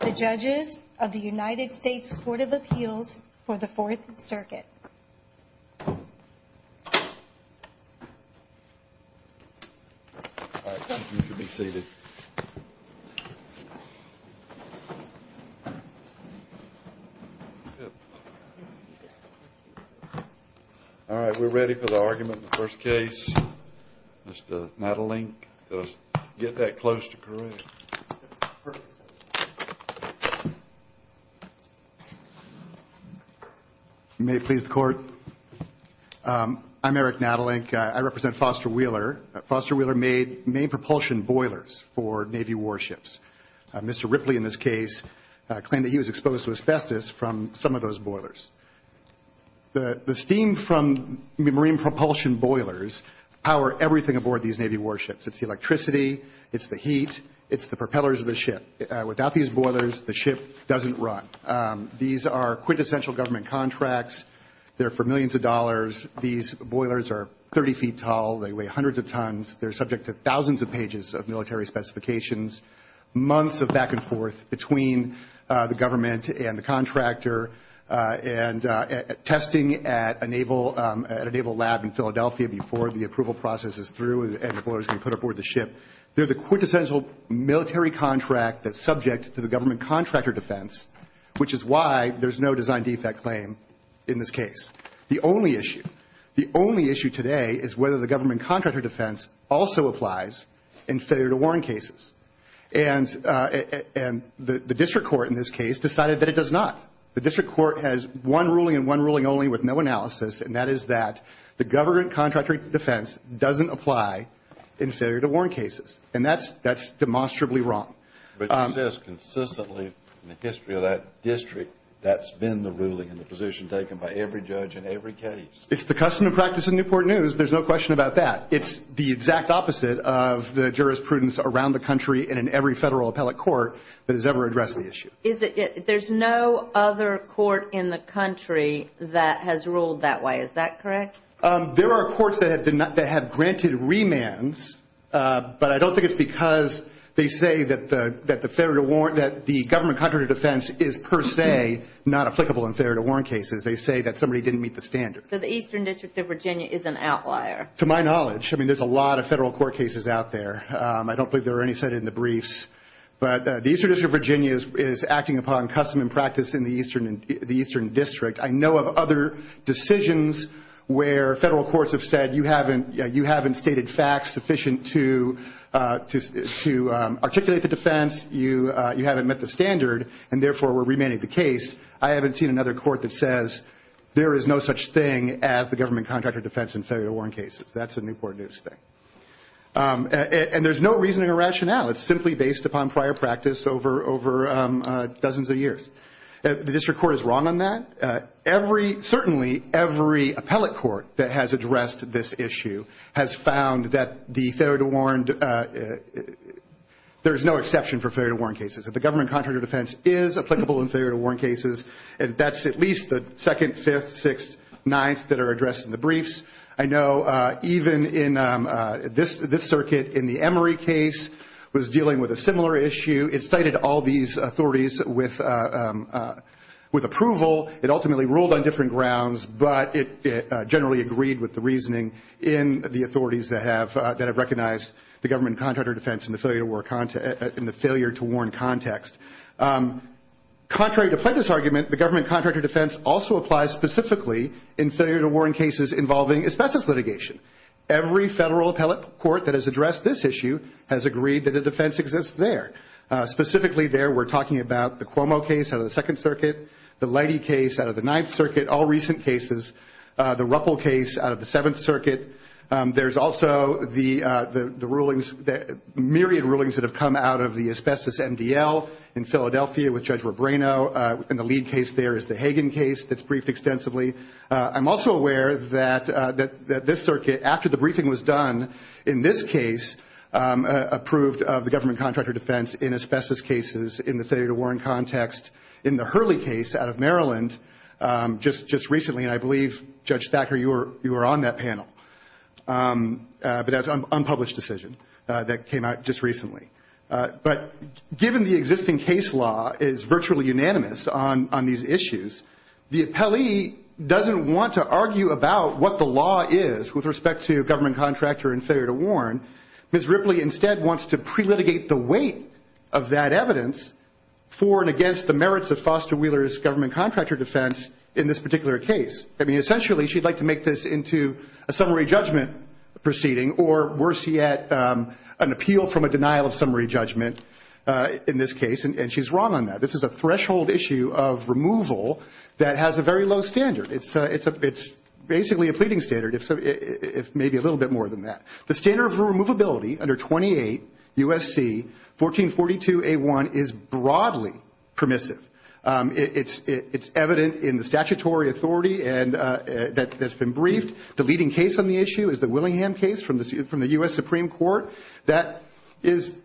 The Judges of the United States Court of Appeals for the Fourth Circuit. All right, you can be seated. All right, we're ready for the argument in the first case. Mr. Nadelink, get that close to correct. May it please the Court. I'm Eric Nadelink. I represent Foster Wheeler. Foster Wheeler made main propulsion boilers for Navy warships. Mr. Ripley, in this case, claimed that he was exposed to asbestos from some of those boilers. The steam from the marine propulsion boilers power everything aboard these Navy warships. It's the electricity. It's the heat. It's the propellers of the ship. Without these boilers, the ship doesn't run. These are quintessential government contracts. They're for millions of dollars. These boilers are 30 feet tall. They weigh hundreds of tons. They're subject to thousands of pages of military specifications, months of back and forth between the government and the contractor, and testing at a naval lab in Philadelphia before the approval process is through and the boilers can be put aboard the ship. They're the quintessential military contract that's subject to the government contractor defense, which is why there's no design defect claim in this case. The only issue, the only issue today is whether the government contractor defense also applies in failure-to-warn cases. And the district court in this case decided that it does not. The district court has one ruling and one ruling only with no analysis, and that is that the government contractor defense doesn't apply in failure-to-warn cases. And that's demonstrably wrong. But it says consistently in the history of that district that's been the ruling and the position taken by every judge in every case. It's the custom and practice in Newport News. There's no question about that. It's the exact opposite of the jurisprudence around the country and in every federal appellate court that has ever addressed the issue. There's no other court in the country that has ruled that way. Is that correct? There are courts that have granted remands, but I don't think it's because they say that the government contractor defense is per se not applicable in failure-to-warn cases. They say that somebody didn't meet the standard. So the Eastern District of Virginia is an outlier. To my knowledge. I mean, there's a lot of federal court cases out there. I don't believe there are any cited in the briefs. But the Eastern District of Virginia is acting upon custom and practice in the Eastern District. I know of other decisions where federal courts have said, you haven't stated facts sufficient to articulate the defense, you haven't met the standard, and therefore we're remanding the case. I haven't seen another court that says there is no such thing as the government contractor defense in failure-to-warn cases. That's a Newport News thing. And there's no reasoning or rationale. It's simply based upon prior practice over dozens of years. The district court is wrong on that. Certainly every appellate court that has addressed this issue has found that the failure-to-warn, there's no exception for failure-to-warn cases. If the government contractor defense is applicable in failure-to-warn cases, that's at least the second, fifth, sixth, ninth that are addressed in the briefs. I know even in this circuit in the Emory case was dealing with a similar issue. It cited all these authorities with approval. It ultimately ruled on different grounds, but it generally agreed with the reasoning in the authorities that have recognized the government contractor defense in the failure-to-warn context. Contrary to Plaintiff's argument, the government contractor defense also applies specifically in failure-to-warn cases involving asbestos litigation. Every federal appellate court that has addressed this issue has agreed that a defense exists there. Specifically there, we're talking about the Cuomo case out of the Second Circuit, the Leidy case out of the Ninth Circuit, all recent cases, the Ruppel case out of the Seventh Circuit. There's also the rulings, myriad rulings that have come out of the asbestos MDL in Philadelphia with Judge Robreno. And the lead case there is the Hagan case that's briefed extensively. I'm also aware that this circuit, after the briefing was done, in this case approved of the government contractor defense in asbestos cases in the failure-to-warn context. In the Hurley case out of Maryland just recently, and I believe, Judge Thacker, you were on that panel, but that's an unpublished decision that came out just recently. But given the existing case law is virtually unanimous on these issues, the appellee doesn't want to argue about what the law is with respect to government contractor and failure-to-warn. Ms. Ripley instead wants to pre-litigate the weight of that evidence for and against the merits of Foster Wheeler's government contractor defense in this particular case. I mean, essentially, she'd like to make this into a summary judgment proceeding, or worse yet, an appeal from a denial of summary judgment in this case, and she's wrong on that. This is a threshold issue of removal that has a very low standard. It's basically a pleading standard, if maybe a little bit more than that. The standard of removability under 28 U.S.C. 1442A1 is broadly permissive. It's evident in the statutory authority that's been briefed. The leading case on the issue is the Willingham case from the U.S. Supreme Court. That is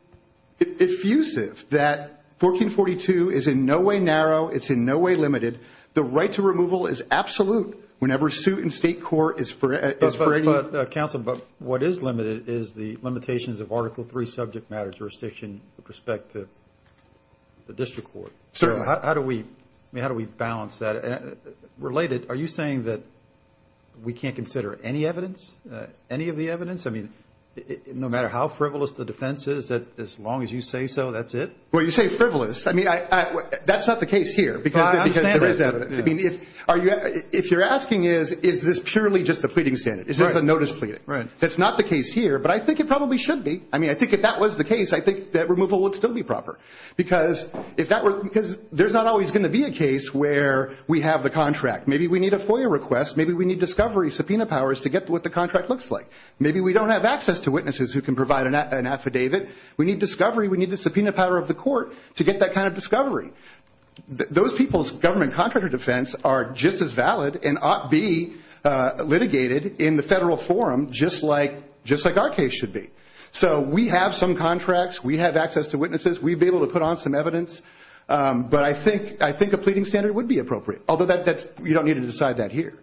effusive, that 1442 is in no way narrow. It's in no way limited. The right to removal is absolute whenever suit in state court is free. But, counsel, what is limited is the limitations of Article III subject matter jurisdiction with respect to the district court. Certainly. How do we balance that? Related, are you saying that we can't consider any evidence, any of the evidence? I mean, no matter how frivolous the defense is, that as long as you say so, that's it? Well, you say frivolous. I mean, that's not the case here. I understand that. Because there is evidence. I mean, if you're asking is, is this purely just a pleading standard? Is this a notice pleading? Right. That's not the case here, but I think it probably should be. I mean, I think if that was the case, I think that removal would still be proper. Because there's not always going to be a case where we have the contract. Maybe we need a FOIA request. Maybe we need discovery subpoena powers to get what the contract looks like. Maybe we don't have access to witnesses who can provide an affidavit. We need discovery. We need the subpoena power of the court to get that kind of discovery. Those people's government contractor defense are just as valid and ought be litigated in the federal forum just like our case should be. So we have some contracts. We have access to witnesses. We'd be able to put on some evidence. But I think a pleading standard would be appropriate. Although you don't need to decide that here.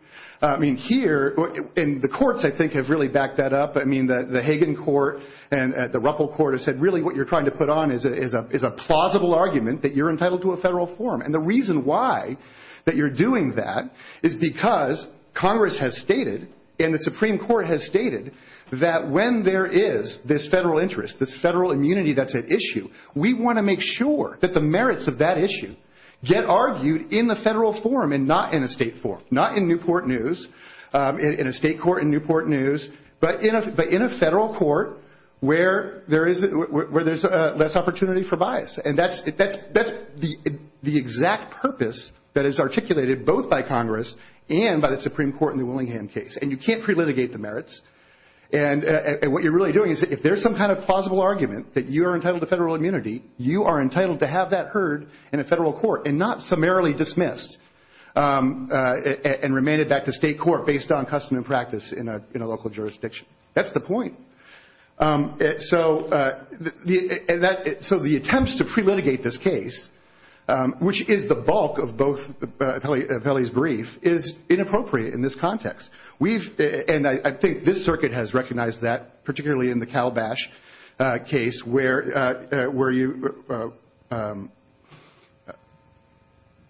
I mean, here, and the courts, I think, have really backed that up. I mean, the Hagan court and the Ruppel court have said, really what you're trying to put on is a plausible argument that you're entitled to a federal forum. And the reason why that you're doing that is because Congress has stated and the Supreme Court has stated that when there is this federal interest, this federal immunity that's at issue, we want to make sure that the merits of that issue get argued in the federal forum and not in a state forum, not in Newport News, in a state court in Newport News, but in a federal court where there's less opportunity for bias. And that's the exact purpose that is articulated both by Congress and by the Supreme Court in the Willingham case. And you can't pre-litigate the merits. And what you're really doing is if there's some kind of plausible argument that you are entitled to federal immunity, you are entitled to have that heard in a federal court and not summarily dismissed and remanded back to state court based on custom and practice in a local jurisdiction. That's the point. So the attempts to pre-litigate this case, which is the bulk of both appellees' brief, is inappropriate in this context. And I think this circuit has recognized that, particularly in the Calabash case, where you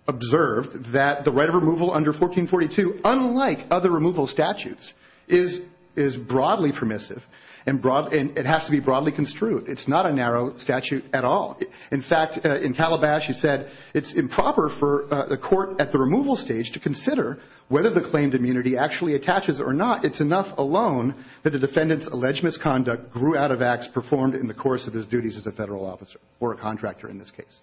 observed that the right of removal under 1442, unlike other removal statutes, is broadly permissive and it has to be broadly construed. It's not a narrow statute at all. In fact, in Calabash you said it's improper for the court at the removal stage to consider whether the claimed immunity actually attaches or not. It's enough alone that the defendant's alleged misconduct grew out of acts performed in the course of his duties as a federal officer or a contractor in this case.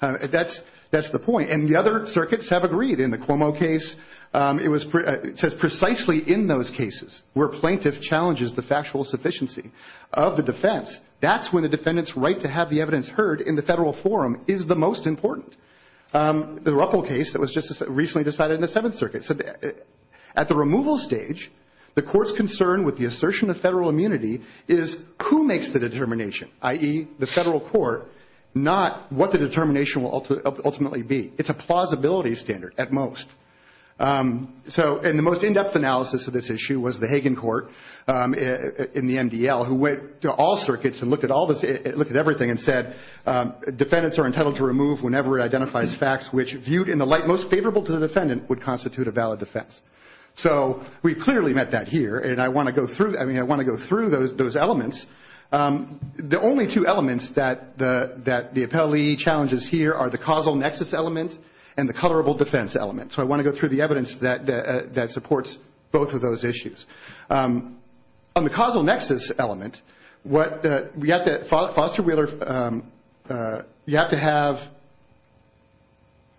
That's the point. And the other circuits have agreed. In the Cuomo case, it says precisely in those cases where plaintiff challenges the factual sufficiency of the defense, that's when the defendant's right to have the evidence heard in the federal forum is the most important. The Ruppel case that was just recently decided in the Seventh Circuit. At the removal stage, the court's concern with the assertion of federal immunity is who makes the determination, i.e., the federal court, not what the determination will ultimately be. It's a plausibility standard at most. And the most in-depth analysis of this issue was the Hagen Court in the MDL, who went to all circuits and looked at everything and said, defendants are entitled to remove whenever it identifies facts which, viewed in the light most favorable to the defendant, would constitute a valid defense. So we clearly met that here, and I want to go through those elements. The only two elements that the appellee challenges here are the causal nexus element and the colorable defense element. So I want to go through the evidence that supports both of those issues. On the causal nexus element, you have to have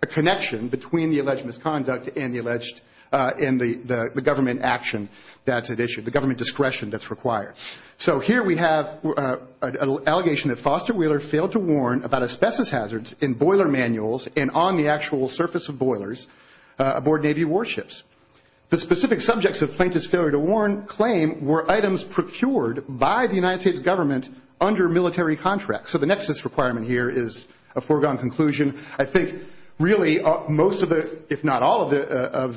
a connection between the alleged misconduct and the government action that's at issue, the government discretion that's required. So here we have an allegation that Foster Wheeler failed to warn about asbestos hazards in boiler manuals and on the actual surface of boilers aboard Navy warships. The specific subjects of Plaintiff's failure to claim were items procured by the United States government under military contracts. So the nexus requirement here is a foregone conclusion. I think really most of the, if not all of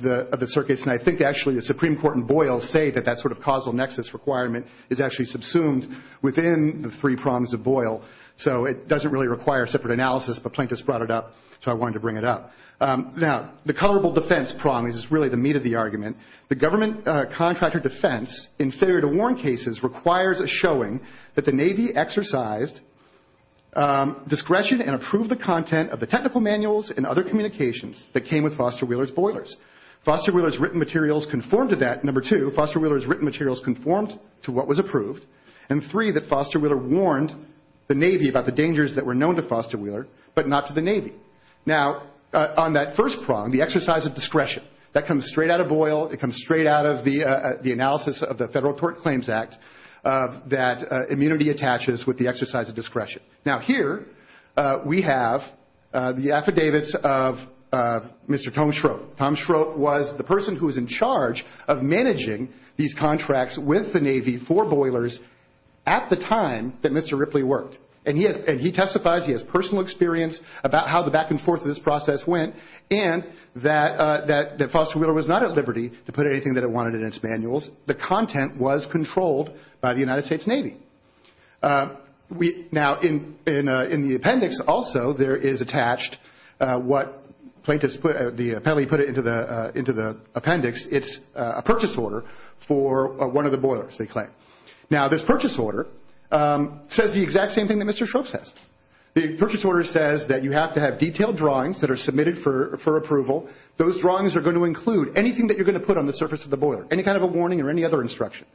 the circuits, and I think actually the Supreme Court in Boyle, say that that sort of causal nexus requirement is actually subsumed within the three prongs of Boyle. So it doesn't really require separate analysis, but Plaintiff's brought it up, so I wanted to bring it up. Now, the colorable defense prong is really the meat of the argument. The government contractor defense in failure to warn cases requires a showing that the Navy exercised discretion and approved the content of the technical manuals and other communications that came with Foster Wheeler's boilers. Foster Wheeler's written materials conformed to that. Number two, Foster Wheeler's written materials conformed to what was approved. And three, that Foster Wheeler warned the Navy about the dangers that were known to Foster Wheeler, but not to the Navy. Now, on that first prong, the exercise of discretion, that comes straight out of Boyle. It comes straight out of the analysis of the Federal Tort Claims Act that immunity attaches with the exercise of discretion. Now, here we have the affidavits of Mr. Tom Schrode. Tom Schrode was the person who was in charge of managing these contracts with the Navy for boilers at the time that Mr. Ripley worked. And he testifies, he has personal experience about how the back and forth of this process went and that Foster Wheeler was not at liberty to put anything that it wanted in its manuals. The content was controlled by the United States Navy. Now, in the appendix also, there is attached what the appellee put into the appendix. It's a purchase order for one of the boilers, they claim. Now, this purchase order says the exact same thing that Mr. Schrode says. The purchase order says that you have to have detailed drawings that are submitted for approval. Those drawings are going to include anything that you're going to put on the surface of the boiler, any kind of a warning or any other instruction.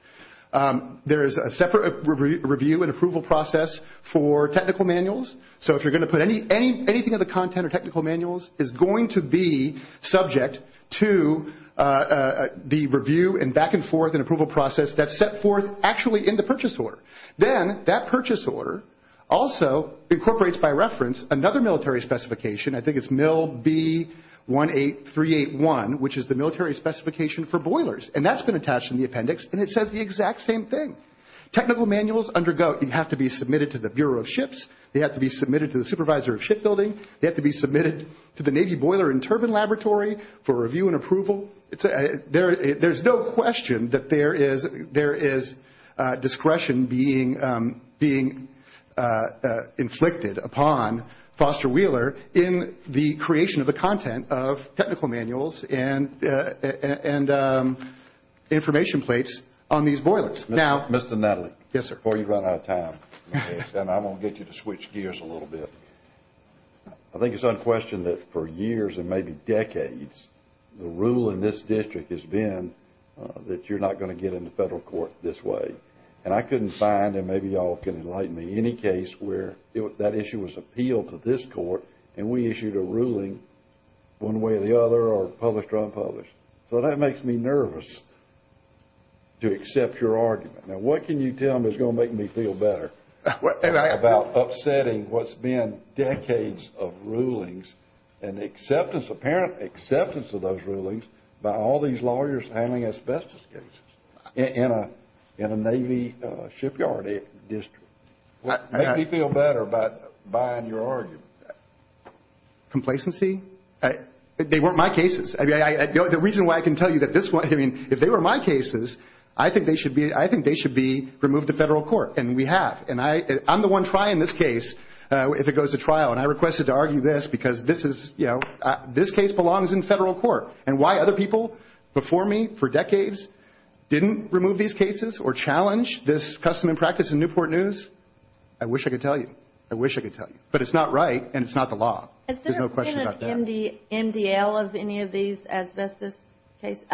There is a separate review and approval process for technical manuals. So if you're going to put anything in the content or technical manuals is going to be subject to the review and back and forth and approval process that's set forth actually in the purchase order. Then that purchase order also incorporates by reference another military specification. I think it's MIL B18381, which is the military specification for boilers. And that's been attached in the appendix, and it says the exact same thing. Technical manuals undergo, you have to be submitted to the Bureau of Ships. They have to be submitted to the supervisor of shipbuilding. They have to be submitted to the Navy Boiler and Turbine Laboratory for review and approval. There's no question that there is discretion being inflicted upon Foster Wheeler in the creation of the content of technical manuals and information plates on these boilers. Mr. Natalie, before you run out of time, and I'm going to get you to switch gears a little bit. I think it's unquestioned that for years and maybe decades, the rule in this district has been that you're not going to get into federal court this way. And I couldn't find, and maybe you all can enlighten me, any case where that issue was appealed to this court and we issued a ruling one way or the other or published or unpublished. So that makes me nervous to accept your argument. Now, what can you tell me that's going to make me feel better about upsetting what's been decades of rulings and apparent acceptance of those rulings by all these lawyers handling asbestos cases in a Navy shipyard district? Make me feel better about buying your argument. Complacency? They weren't my cases. I mean, the reason why I can tell you that this one, I mean, if they were my cases, I think they should be removed to federal court. And we have. And I'm the one trying this case if it goes to trial. And I requested to argue this because this is, you know, this case belongs in federal court. And why other people before me for decades didn't remove these cases or challenge this custom and practice in Newport News, I wish I could tell you. I wish I could tell you. But it's not right, and it's not the law. There's no question about that. Has there been an MDL of any of these asbestos cases?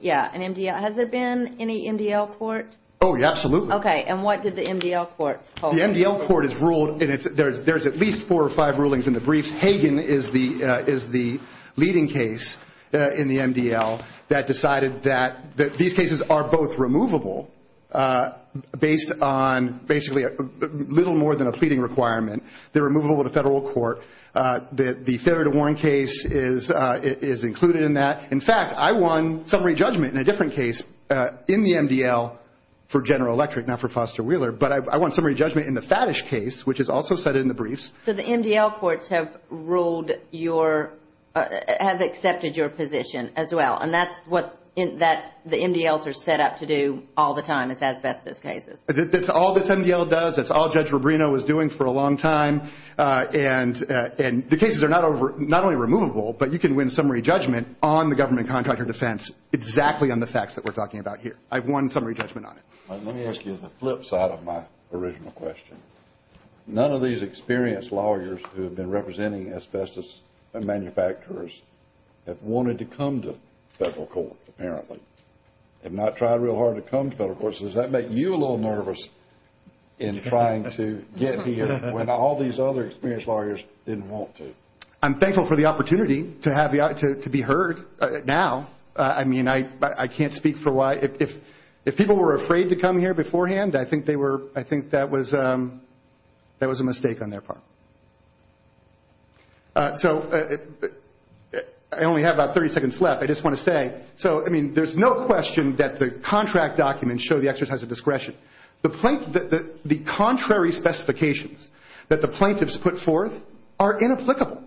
Yeah, an MDL. Has there been any MDL court? Oh, yeah, absolutely. Okay. And what did the MDL court hold? The MDL court has ruled, and there's at least four or five rulings in the briefs. Hagan is the leading case in the MDL that decided that these cases are both removable based on basically little more than a pleading requirement. They're removable to federal court. The Federer to Warren case is included in that. In fact, I won summary judgment in a different case in the MDL for General Electric, not for Foster Wheeler. But I won summary judgment in the Faddish case, which is also cited in the briefs. So the MDL courts have ruled your – have accepted your position as well. And that's what the MDLs are set up to do all the time is asbestos cases. That's all this MDL does. That's all Judge Rubino was doing for a long time. And the cases are not only removable, but you can win summary judgment on the government contractor defense exactly on the facts that we're talking about here. I've won summary judgment on it. Let me ask you the flip side of my original question. None of these experienced lawyers who have been representing asbestos manufacturers have wanted to come to federal court, apparently, have not tried real hard to come to federal court. Does that make you a little nervous in trying to get here when all these other experienced lawyers didn't want to? I'm thankful for the opportunity to be heard now. I mean, I can't speak for why – if people were afraid to come here beforehand, I think that was a mistake on their part. So I only have about 30 seconds left. I just want to say, so, I mean, there's no question that the contract documents show the exercise of discretion. The contrary specifications that the plaintiffs put forth are inapplicable.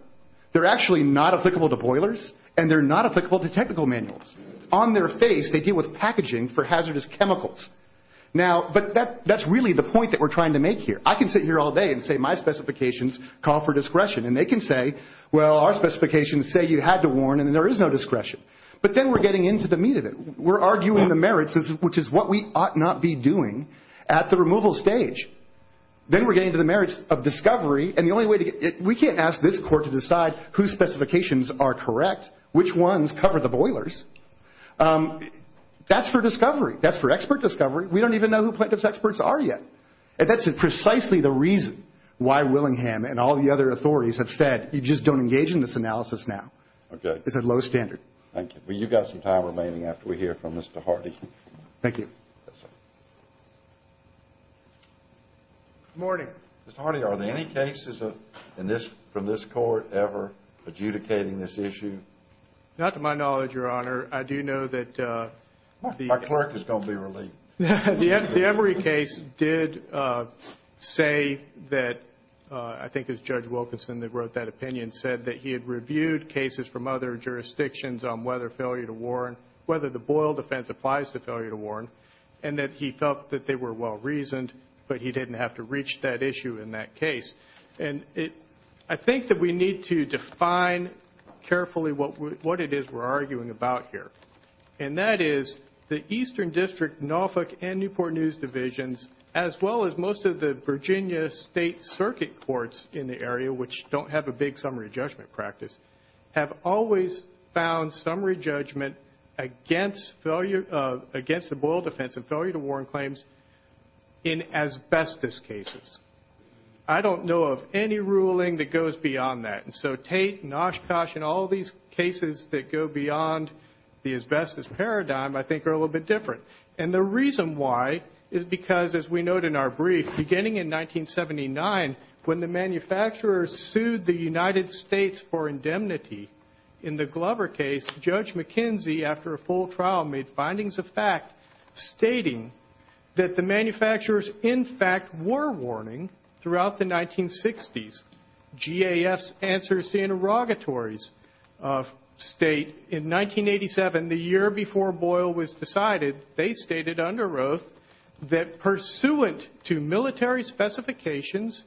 They're actually not applicable to boilers, and they're not applicable to technical manuals. On their face, they deal with packaging for hazardous chemicals. Now, but that's really the point that we're trying to make here. I can sit here all day and say my specifications call for discretion, and they can say, well, our specifications say you had to warn and there is no discretion. But then we're getting into the meat of it. We're arguing the merits, which is what we ought not be doing at the removal stage. Then we're getting to the merits of discovery, and the only way to get – we can't ask this court to decide whose specifications are correct, which ones cover the boilers. That's for discovery. That's for expert discovery. We don't even know who plaintiff's experts are yet. And that's precisely the reason why Willingham and all the other authorities have said, you just don't engage in this analysis now. It's a low standard. Thank you. Well, you've got some time remaining after we hear from Mr. Hardy. Thank you. Good morning. Mr. Hardy, are there any cases from this court ever adjudicating this issue? Not to my knowledge, Your Honor. I do know that the – My clerk is going to be relieved. The Emory case did say that, I think it was Judge Wilkinson that wrote that opinion, said that he had reviewed cases from other jurisdictions on whether failure to warn, whether the boil defense applies to failure to warn, and that he felt that they were well-reasoned, but he didn't have to reach that issue in that case. And I think that we need to define carefully what it is we're arguing about here, and that is the Eastern District, Norfolk, and Newport News Divisions, as well as most of the Virginia State Circuit Courts in the area, which don't have a big summary judgment practice, have always found summary judgment against the boil defense and failure to warn claims in asbestos cases. I don't know of any ruling that goes beyond that. And so Tate and Oshkosh and all these cases that go beyond the asbestos paradigm, I think, are a little bit different. And the reason why is because, as we note in our brief, beginning in 1979, when the manufacturers sued the United States for indemnity in the Glover case, Judge McKenzie, after a full trial, made findings of fact stating that the manufacturers, in fact, were warning throughout the 1960s. GAF's answers to interrogatories state in 1987, the year before Boyle was decided, they stated under oath that, pursuant to military specifications,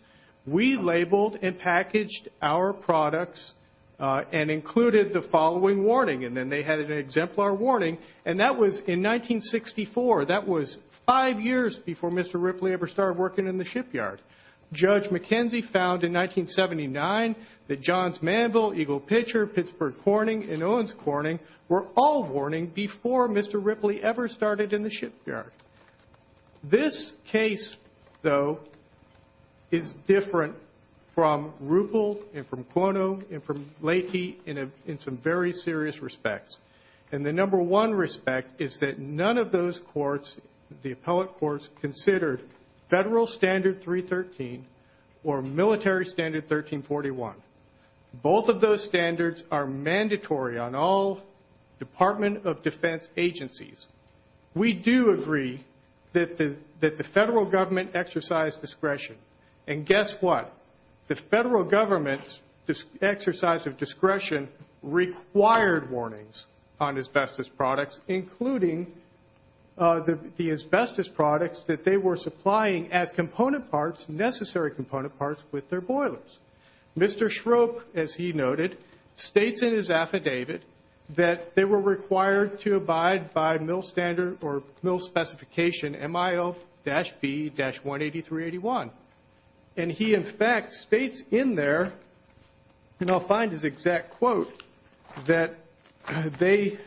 we labeled and packaged our products and included the following warning. And then they had an exemplar warning, and that was in 1964. That was five years before Mr. Ripley ever started working in the shipyard. Judge McKenzie found in 1979 that Johns Manville, Eagle Pitcher, Pittsburgh Corning, and Owens Corning were all warning before Mr. Ripley ever started in the shipyard. This case, though, is different from Rupel and from Cuono and from Leahy in some very serious respects. And the number one respect is that none of those courts, the appellate courts, considered Federal Standard 313 or Military Standard 1341. Both of those standards are mandatory on all Department of Defense agencies. We do agree that the Federal Government exercised discretion. And guess what? The Federal Government's exercise of discretion required warnings on asbestos products, including the asbestos products that they were supplying as component parts, necessary component parts, with their boilers. Mr. Schroep, as he noted, states in his affidavit that they were required to abide by mill standard or mill specification MIL-B-18381. And he, in fact, states in there, and I'll find his exact quote, that they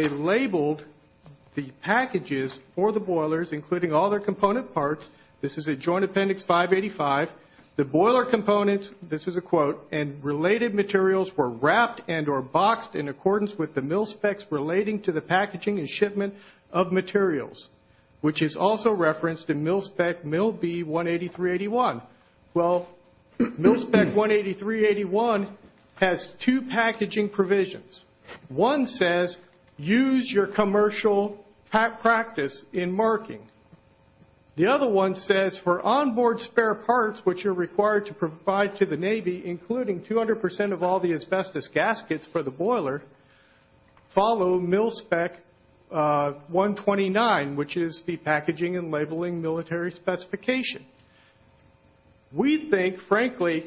labeled the packages for the boilers, including all their component parts. This is at Joint Appendix 585. The boiler components, this is a quote, and related materials were wrapped and or boxed in accordance with the mill specs relating to the packaging and shipment of materials, which is also referenced in mill spec MIL-B-18381. Well, mill spec 18381 has two packaging provisions. One says, use your commercial practice in marking. The other one says, for onboard spare parts, which are required to provide to the Navy, including 200% of all the asbestos gaskets for the boiler, follow mill spec 129, which is the packaging and labeling military specification. We think, frankly,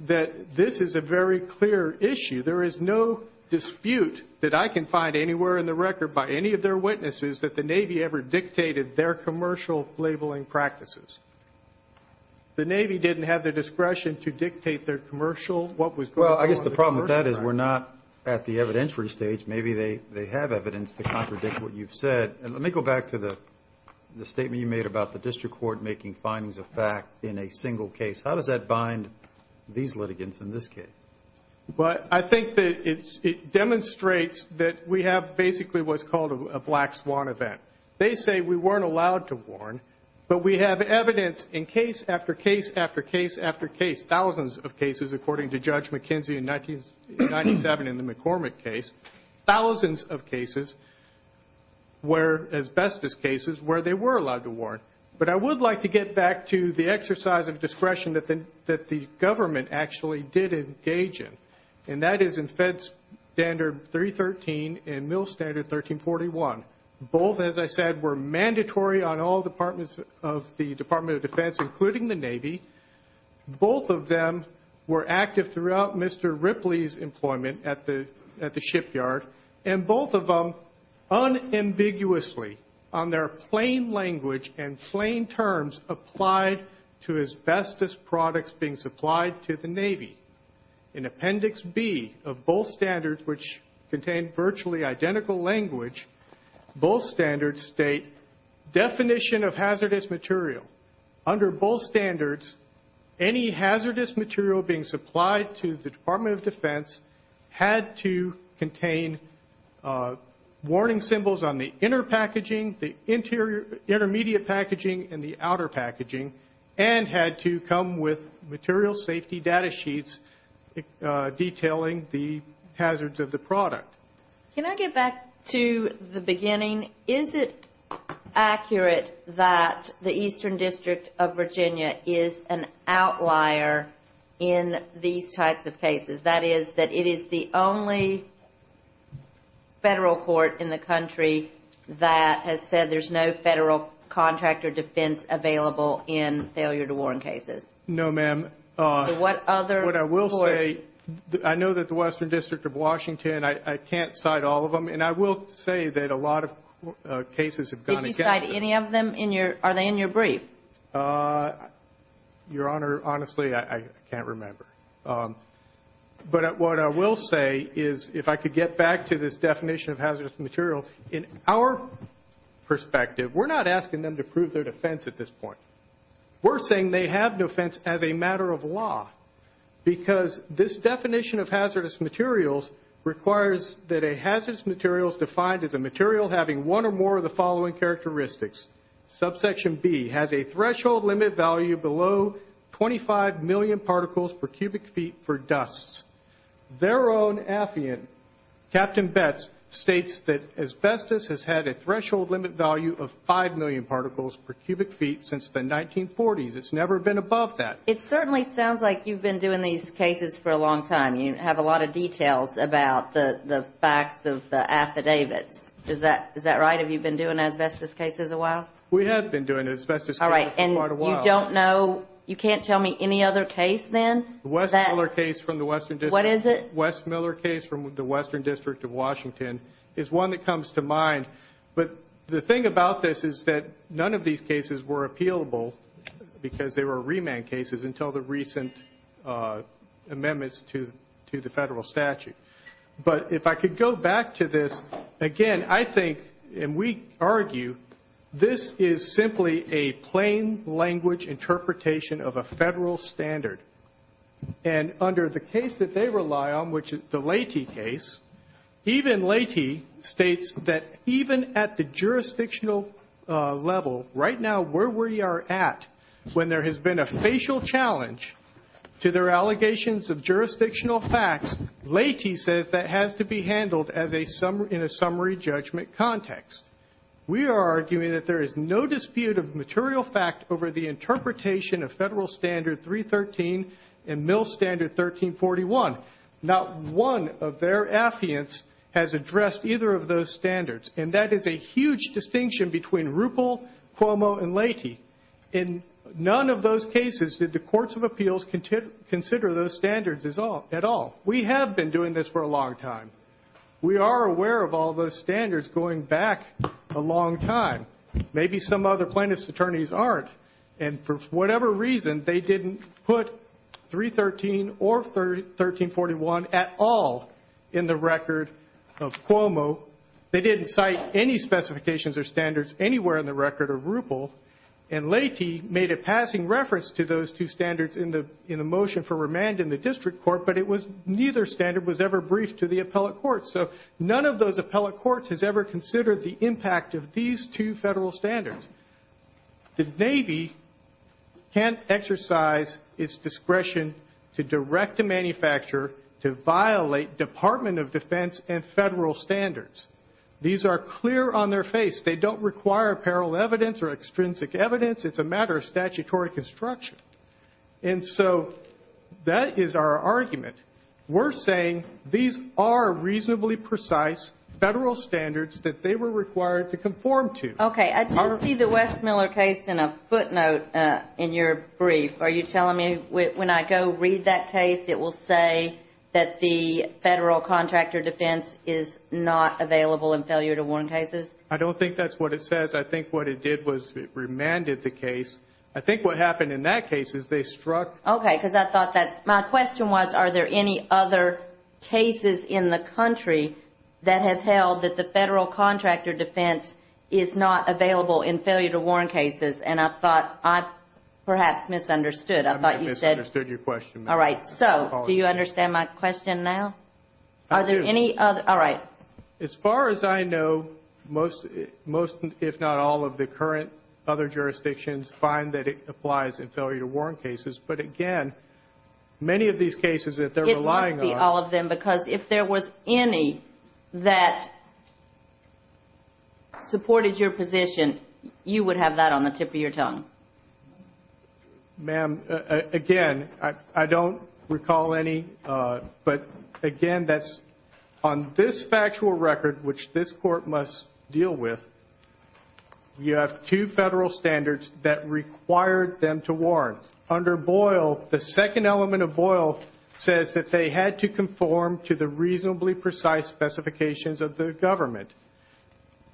that this is a very clear issue. There is no dispute that I can find anywhere in the record by any of their witnesses that the Navy ever dictated their commercial labeling practices. The Navy didn't have the discretion to dictate their commercial what was going on. Well, I guess the problem with that is we're not at the evidentiary stage. Maybe they have evidence to contradict what you've said. And let me go back to the statement you made about the district court making findings of fact in a single case. How does that bind these litigants in this case? But I think that it demonstrates that we have basically what's called a black swan event. They say we weren't allowed to warn, but we have evidence in case after case after case after case, thousands of cases, according to Judge McKenzie in 1997 in the McCormick case, thousands of asbestos cases where they were allowed to warn. But I would like to get back to the exercise of discretion that the government actually did engage in, and that is in Fed Standard 313 and Mill Standard 1341. Both, as I said, were mandatory on all departments of the Department of Defense, including the Navy. Both of them were active throughout Mr. Ripley's employment at the shipyard, and both of them unambiguously on their plain language and plain terms applied to asbestos products being supplied to the Navy. In Appendix B of both standards, which contain virtually identical language, both standards state definition of hazardous material. Under both standards, any hazardous material being supplied to the Department of Defense had to contain warning symbols on the inner packaging, the intermediate packaging, and the outer packaging, and had to come with material safety data sheets detailing the hazards of the product. Can I get back to the beginning? Is it accurate that the Eastern District of Virginia is an outlier in these types of cases, that is, that it is the only federal court in the country that has said that there's no federal contract or defense available in failure to warn cases? No, ma'am. What other court? What I will say, I know that the Western District of Washington, I can't cite all of them, and I will say that a lot of cases have gone against them. Did you cite any of them? Are they in your brief? Your Honor, honestly, I can't remember. But what I will say is if I could get back to this definition of hazardous material, in our perspective, we're not asking them to prove their defense at this point. We're saying they have no defense as a matter of law because this definition of hazardous materials requires that a hazardous material is defined as a material having one or more of the following characteristics. Subsection B has a threshold limit value below 25 million particles per cubic feet for dust. Their own affiant, Captain Betz, states that asbestos has had a threshold limit value of 5 million particles per cubic feet since the 1940s. It's never been above that. It certainly sounds like you've been doing these cases for a long time. You have a lot of details about the facts of the affidavits. Is that right? Have you been doing asbestos cases a while? We have been doing asbestos cases for quite a while. All right. And you don't know, you can't tell me any other case then? The West Miller case from the Western District. What is it? The West Miller case from the Western District of Washington is one that comes to mind. But the thing about this is that none of these cases were appealable because they were remand cases until the recent amendments to the federal statute. But if I could go back to this, again, I think, and we argue, this is simply a plain language interpretation of a federal standard. And under the case that they rely on, which is the Lehti case, even Lehti states that even at the jurisdictional level, right now, where we are at when there has been a facial challenge to their allegations of jurisdictional facts, Lehti says that has to be handled in a summary judgment context. We are arguing that there is no dispute of material fact over the interpretation of federal standard 313 and mill standard 1341. Not one of their affiants has addressed either of those standards. And that is a huge distinction between Ruppel, Cuomo, and Lehti. In none of those cases did the courts of appeals consider those standards at all. We have been doing this for a long time. We are aware of all those standards going back a long time. Maybe some other plaintiff's attorneys aren't. And for whatever reason, they didn't put 313 or 1341 at all in the record of Cuomo. They didn't cite any specifications or standards anywhere in the record of Ruppel. And Lehti made a passing reference to those two standards in the motion for remand in the district court, but neither standard was ever briefed to the appellate courts. So none of those appellate courts has ever considered the impact of these two federal standards. The Navy can't exercise its discretion to direct a manufacturer to violate Department of Defense and federal standards. These are clear on their face. They don't require apparel evidence or extrinsic evidence. It's a matter of statutory construction. And so that is our argument. We're saying these are reasonably precise federal standards that they were required to conform to. Okay. I did see the Westmiller case in a footnote in your brief. Are you telling me when I go read that case, it will say that the federal contractor defense is not available in failure to warn cases? I don't think that's what it says. I think what it did was it remanded the case. I think what happened in that case is they struck. Okay, because I thought that's my question was, are there any other cases in the country that have held that the federal contractor defense is not available in failure to warn cases? And I thought I perhaps misunderstood. I thought you said. I misunderstood your question. All right. So do you understand my question now? I do. All right. As far as I know, most, if not all, of the current other jurisdictions find that it applies in failure to warn cases. But, again, many of these cases that they're relying on. It must be all of them because if there was any that supported your position, you would have that on the tip of your tongue. Ma'am, again, I don't recall any. But, again, that's on this factual record, which this court must deal with, you have two federal standards that required them to warn. Under Boyle, the second element of Boyle says that they had to conform to the reasonably precise specifications of the government.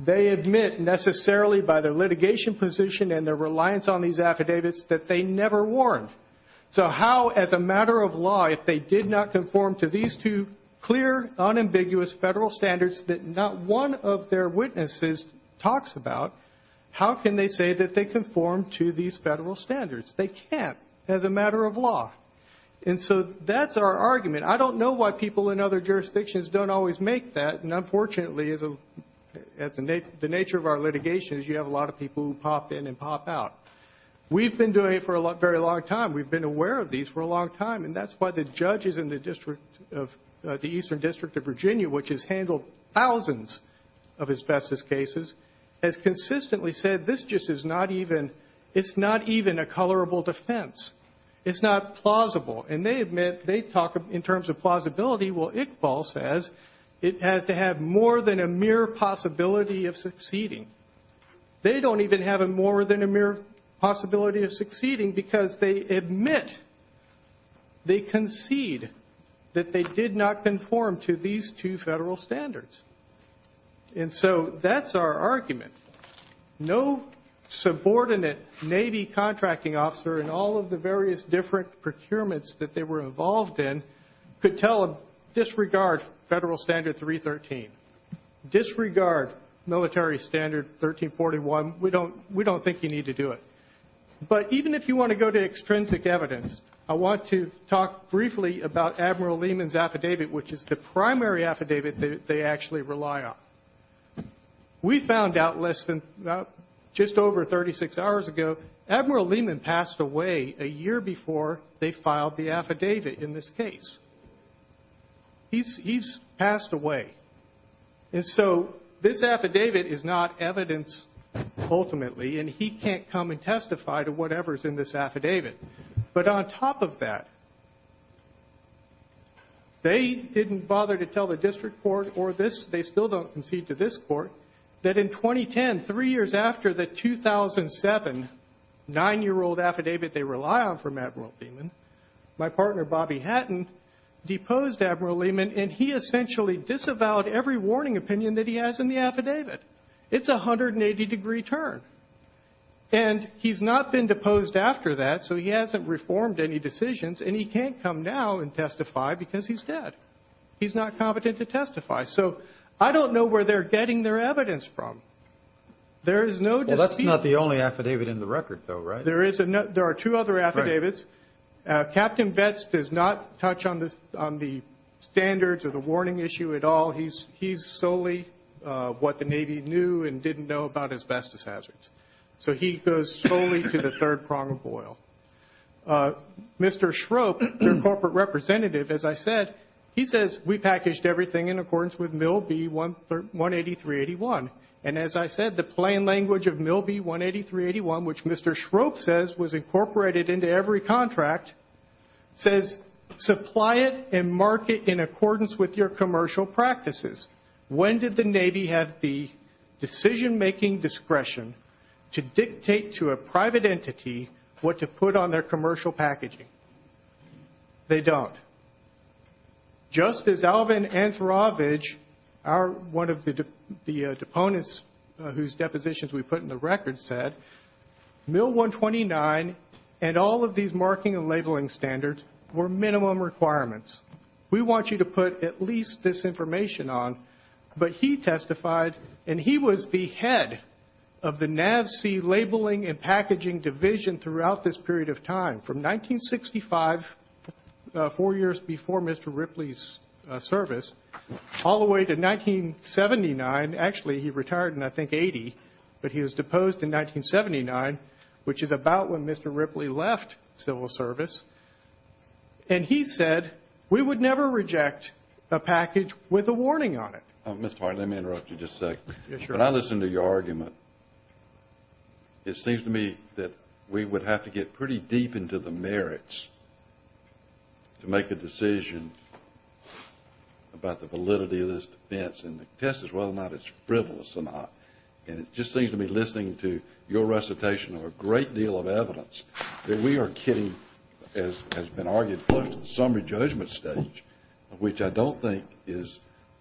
They admit necessarily by their litigation position and their reliance on these affidavits that they never warned. So how, as a matter of law, if they did not conform to these two clear, unambiguous federal standards that not one of their witnesses talks about, how can they say that they conform to these federal standards? They can't as a matter of law. And so that's our argument. I don't know why people in other jurisdictions don't always make that. And, unfortunately, the nature of our litigation is you have a lot of people who pop in and pop out. We've been doing it for a very long time. We've been aware of these for a long time. And that's why the judges in the Eastern District of Virginia, which has handled thousands of asbestos cases, has consistently said this just is not even a colorable defense. It's not plausible. And they admit they talk in terms of plausibility. Well, Iqbal says it has to have more than a mere possibility of succeeding. They don't even have more than a mere possibility of succeeding because they admit, they concede that they did not conform to these two federal standards. And so that's our argument. No subordinate Navy contracting officer in all of the various different procurements that they were involved in could disregard Federal Standard 313, disregard Military Standard 1341. We don't think you need to do it. But even if you want to go to extrinsic evidence, I want to talk briefly about Admiral Lehman's affidavit, which is the primary affidavit that they actually rely on. We found out just over 36 hours ago, Admiral Lehman passed away a year before they filed the affidavit in this case. He's passed away. And so this affidavit is not evidence ultimately, and he can't come and testify to whatever's in this affidavit. But on top of that, they didn't bother to tell the district court or this, they still don't concede to this court, that in 2010, three years after the 2007 nine-year-old affidavit they rely on from Admiral Lehman, my partner Bobby Hatton deposed Admiral Lehman, and he essentially disavowed every warning opinion that he has in the affidavit. It's a 180-degree turn. And he's not been deposed after that, so he hasn't reformed any decisions, and he can't come now and testify because he's dead. He's not competent to testify. So I don't know where they're getting their evidence from. There is no dispute. Well, that's not the only affidavit in the record, though, right? There are two other affidavits. Captain Vets does not touch on the standards or the warning issue at all. He's solely what the Navy knew and didn't know about asbestos hazards. So he goes solely to the third prong of oil. Mr. Schroep, their corporate representative, as I said, he says we packaged everything in accordance with MIL-B-18381. And as I said, the plain language of MIL-B-18381, which Mr. Schroep says was incorporated into every contract, says supply it and mark it in accordance with your commercial practices. When did the Navy have the decision-making discretion to dictate to a private entity what to put on their commercial packaging? They don't. Just as Alvin Ansarovich, one of the deponents whose depositions we put in the record, said MIL-129 and all of these marking and labeling standards were minimum requirements. We want you to put at least this information on. But he testified, and he was the head of the NAVSEA labeling and packaging division throughout this period of time. From 1965, four years before Mr. Ripley's service, all the way to 1979. Actually, he retired in, I think, 80. But he was deposed in 1979, which is about when Mr. Ripley left civil service. And he said we would never reject a package with a warning on it. Mr. Hart, let me interrupt you just a second. When I listen to your argument, it seems to me that we would have to get pretty deep into the merits to make a decision about the validity of this defense and to test whether or not it's frivolous or not. And it just seems to me, listening to your recitation of a great deal of evidence, that we are getting, as has been argued, close to the summary judgment stage, which I don't think is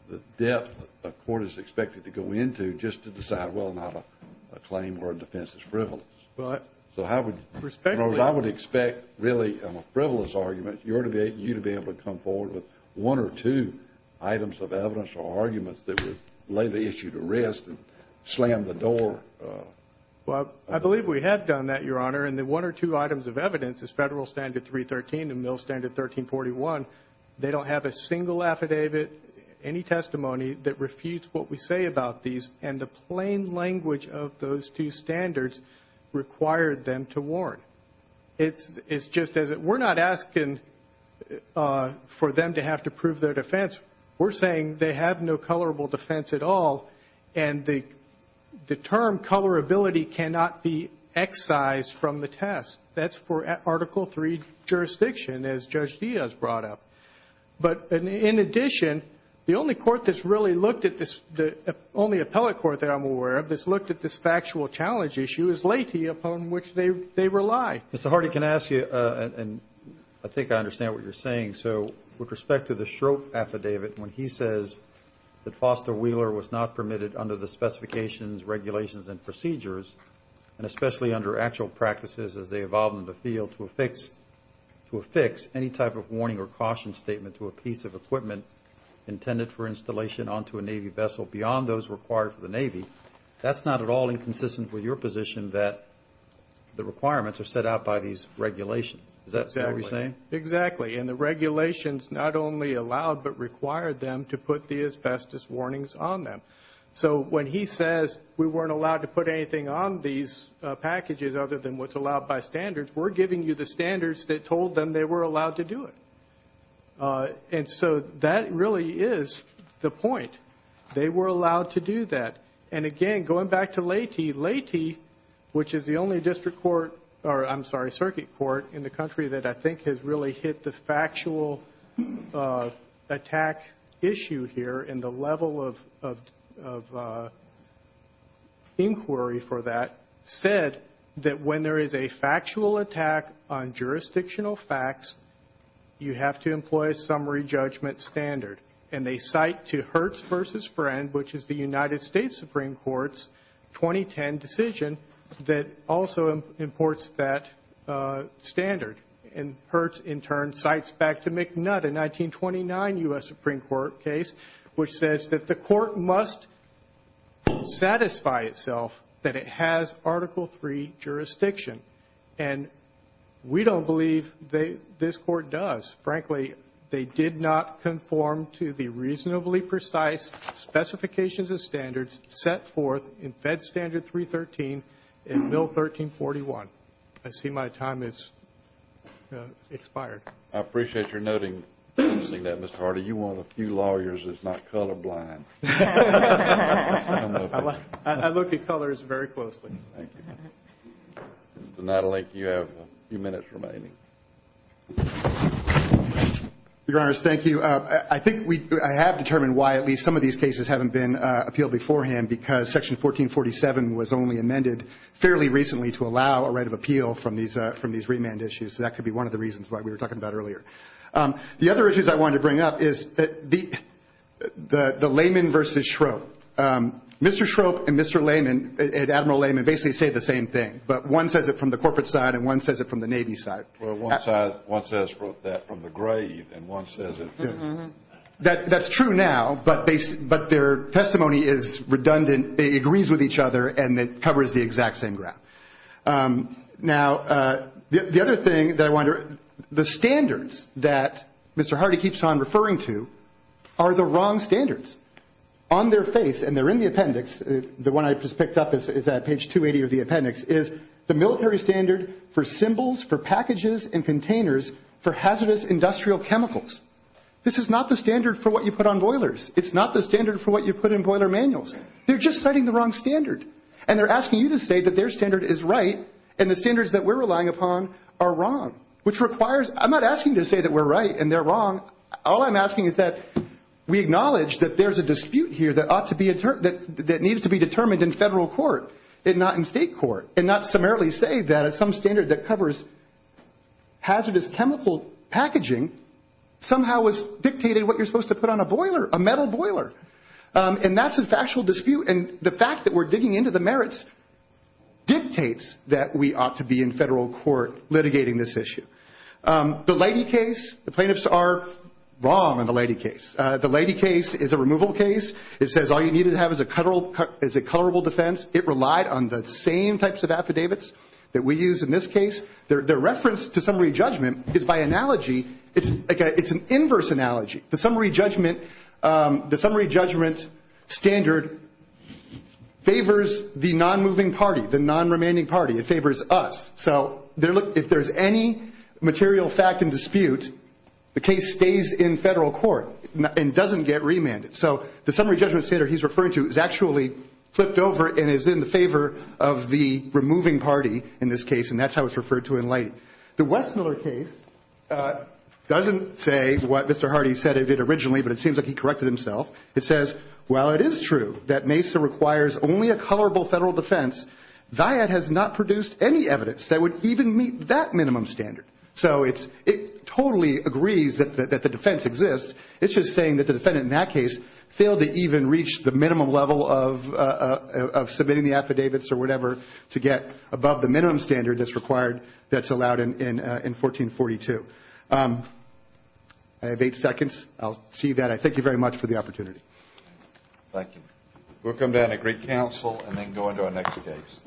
the depth a court is expected to go into just to decide, well, not a claim where a defense is frivolous. So I would expect, really, on a frivolous argument, you to be able to come forward with one or two items of evidence or arguments that would lay the issue to rest and slam the door. Well, I believe we have done that, Your Honor. And the one or two items of evidence is Federal Standard 313 and Mill Standard 1341. They don't have a single affidavit, any testimony, that refutes what we say about these. And the plain language of those two standards required them to warn. It's just as if we're not asking for them to have to prove their defense. We're saying they have no colorable defense at all, and the term colorability cannot be excised from the test. That's for Article III jurisdiction, as Judge Diaz brought up. But in addition, the only court that's really looked at this, the only appellate court that I'm aware of that's looked at this factual challenge issue is Latie, upon which they rely. Mr. Hardy, can I ask you, and I think I understand what you're saying, so with respect to the Schroep affidavit, when he says that Foster Wheeler was not permitted under the specifications, regulations, and procedures, and especially under actual practices as they evolve in the field to affix any type of warning or caution statement to a piece of equipment intended for installation onto a Navy vessel beyond those required for the Navy, that's not at all inconsistent with your position that the requirements are set out by these regulations. Is that what you're saying? Exactly. And the regulations not only allowed but required them to put the asbestos warnings on them. So when he says we weren't allowed to put anything on these packages other than what's allowed by standards, we're giving you the standards that told them they were allowed to do it. And so that really is the point. They were allowed to do that. And, again, going back to Latie, Latie, which is the only district court, I'm sorry, circuit court in the country that I think has really hit the factual attack issue here and the level of inquiry for that said that when there is a factual attack on jurisdictional facts, you have to employ a summary judgment standard. And they cite to Hertz v. Friend, which is the United States Supreme Court's 2010 decision, that also imports that standard. And Hertz, in turn, cites back to McNutt, a 1929 U.S. Supreme Court case, which says that the court must satisfy itself that it has Article III jurisdiction. And we don't believe this Court does. Frankly, they did not conform to the reasonably precise specifications and standards set forth in Fed Standard 313 and Bill 1341. I see my time has expired. I appreciate your noting that, Mr. Hardy. You're one of the few lawyers that's not colorblind. I look at colors very closely. Thank you. Mr. Nadelink, you have a few minutes remaining. Your Honors, thank you. I think I have determined why at least some of these cases haven't been appealed beforehand, because Section 1447 was only amended fairly recently to allow a right of appeal from these remand issues. So that could be one of the reasons why we were talking about earlier. The other issues I wanted to bring up is the layman versus Shrope. Mr. Shrope and Mr. Layman, Admiral Layman, basically say the same thing, but one says it from the corporate side and one says it from the Navy side. Well, one says that from the grave, and one says it from the grave. That's true now, but their testimony is redundant. It agrees with each other, and it covers the exact same ground. Now, the other thing that I wonder, the standards that Mr. Hardy keeps on referring to are the wrong standards. On their face, and they're in the appendix, the one I just picked up is at page 280 of the appendix, is the military standard for symbols for packages and containers for hazardous industrial chemicals. This is not the standard for what you put on boilers. It's not the standard for what you put in boiler manuals. They're just citing the wrong standard, and they're asking you to say that their standard is right, and the standards that we're relying upon are wrong, which requires – I'm not asking you to say that we're right and they're wrong. All I'm asking is that we acknowledge that there's a dispute here that ought to be – that needs to be determined in federal court and not in state court, and not summarily say that some standard that covers hazardous chemical packaging somehow dictated what you're supposed to put on a boiler, a metal boiler. And that's a factual dispute. And the fact that we're digging into the merits dictates that we ought to be in federal court litigating this issue. The Lady case, the plaintiffs are wrong on the Lady case. The Lady case is a removal case. It says all you need to have is a colorable defense. It relied on the same types of affidavits that we use in this case. Their reference to summary judgment is by analogy – it's an inverse analogy. The summary judgment standard favors the non-moving party, the non-remanding party. It favors us. So if there's any material fact in dispute, the case stays in federal court and doesn't get remanded. So the summary judgment standard he's referring to is actually flipped over and is in the favor of the removing party in this case, and that's how it's referred to in Lady. The Westmiller case doesn't say what Mr. Hardy said it did originally, but it seems like he corrected himself. It says, while it is true that Mesa requires only a colorable federal defense, Viad has not produced any evidence that would even meet that minimum standard. So it totally agrees that the defense exists. It's just saying that the defendant in that case failed to even reach the minimum level of submitting the affidavits or whatever to get above the minimum standard that's required that's allowed in 1442. I have eight seconds. I'll see that. I thank you very much for the opportunity. Thank you. We'll come down to Greek Council and then go into our next case.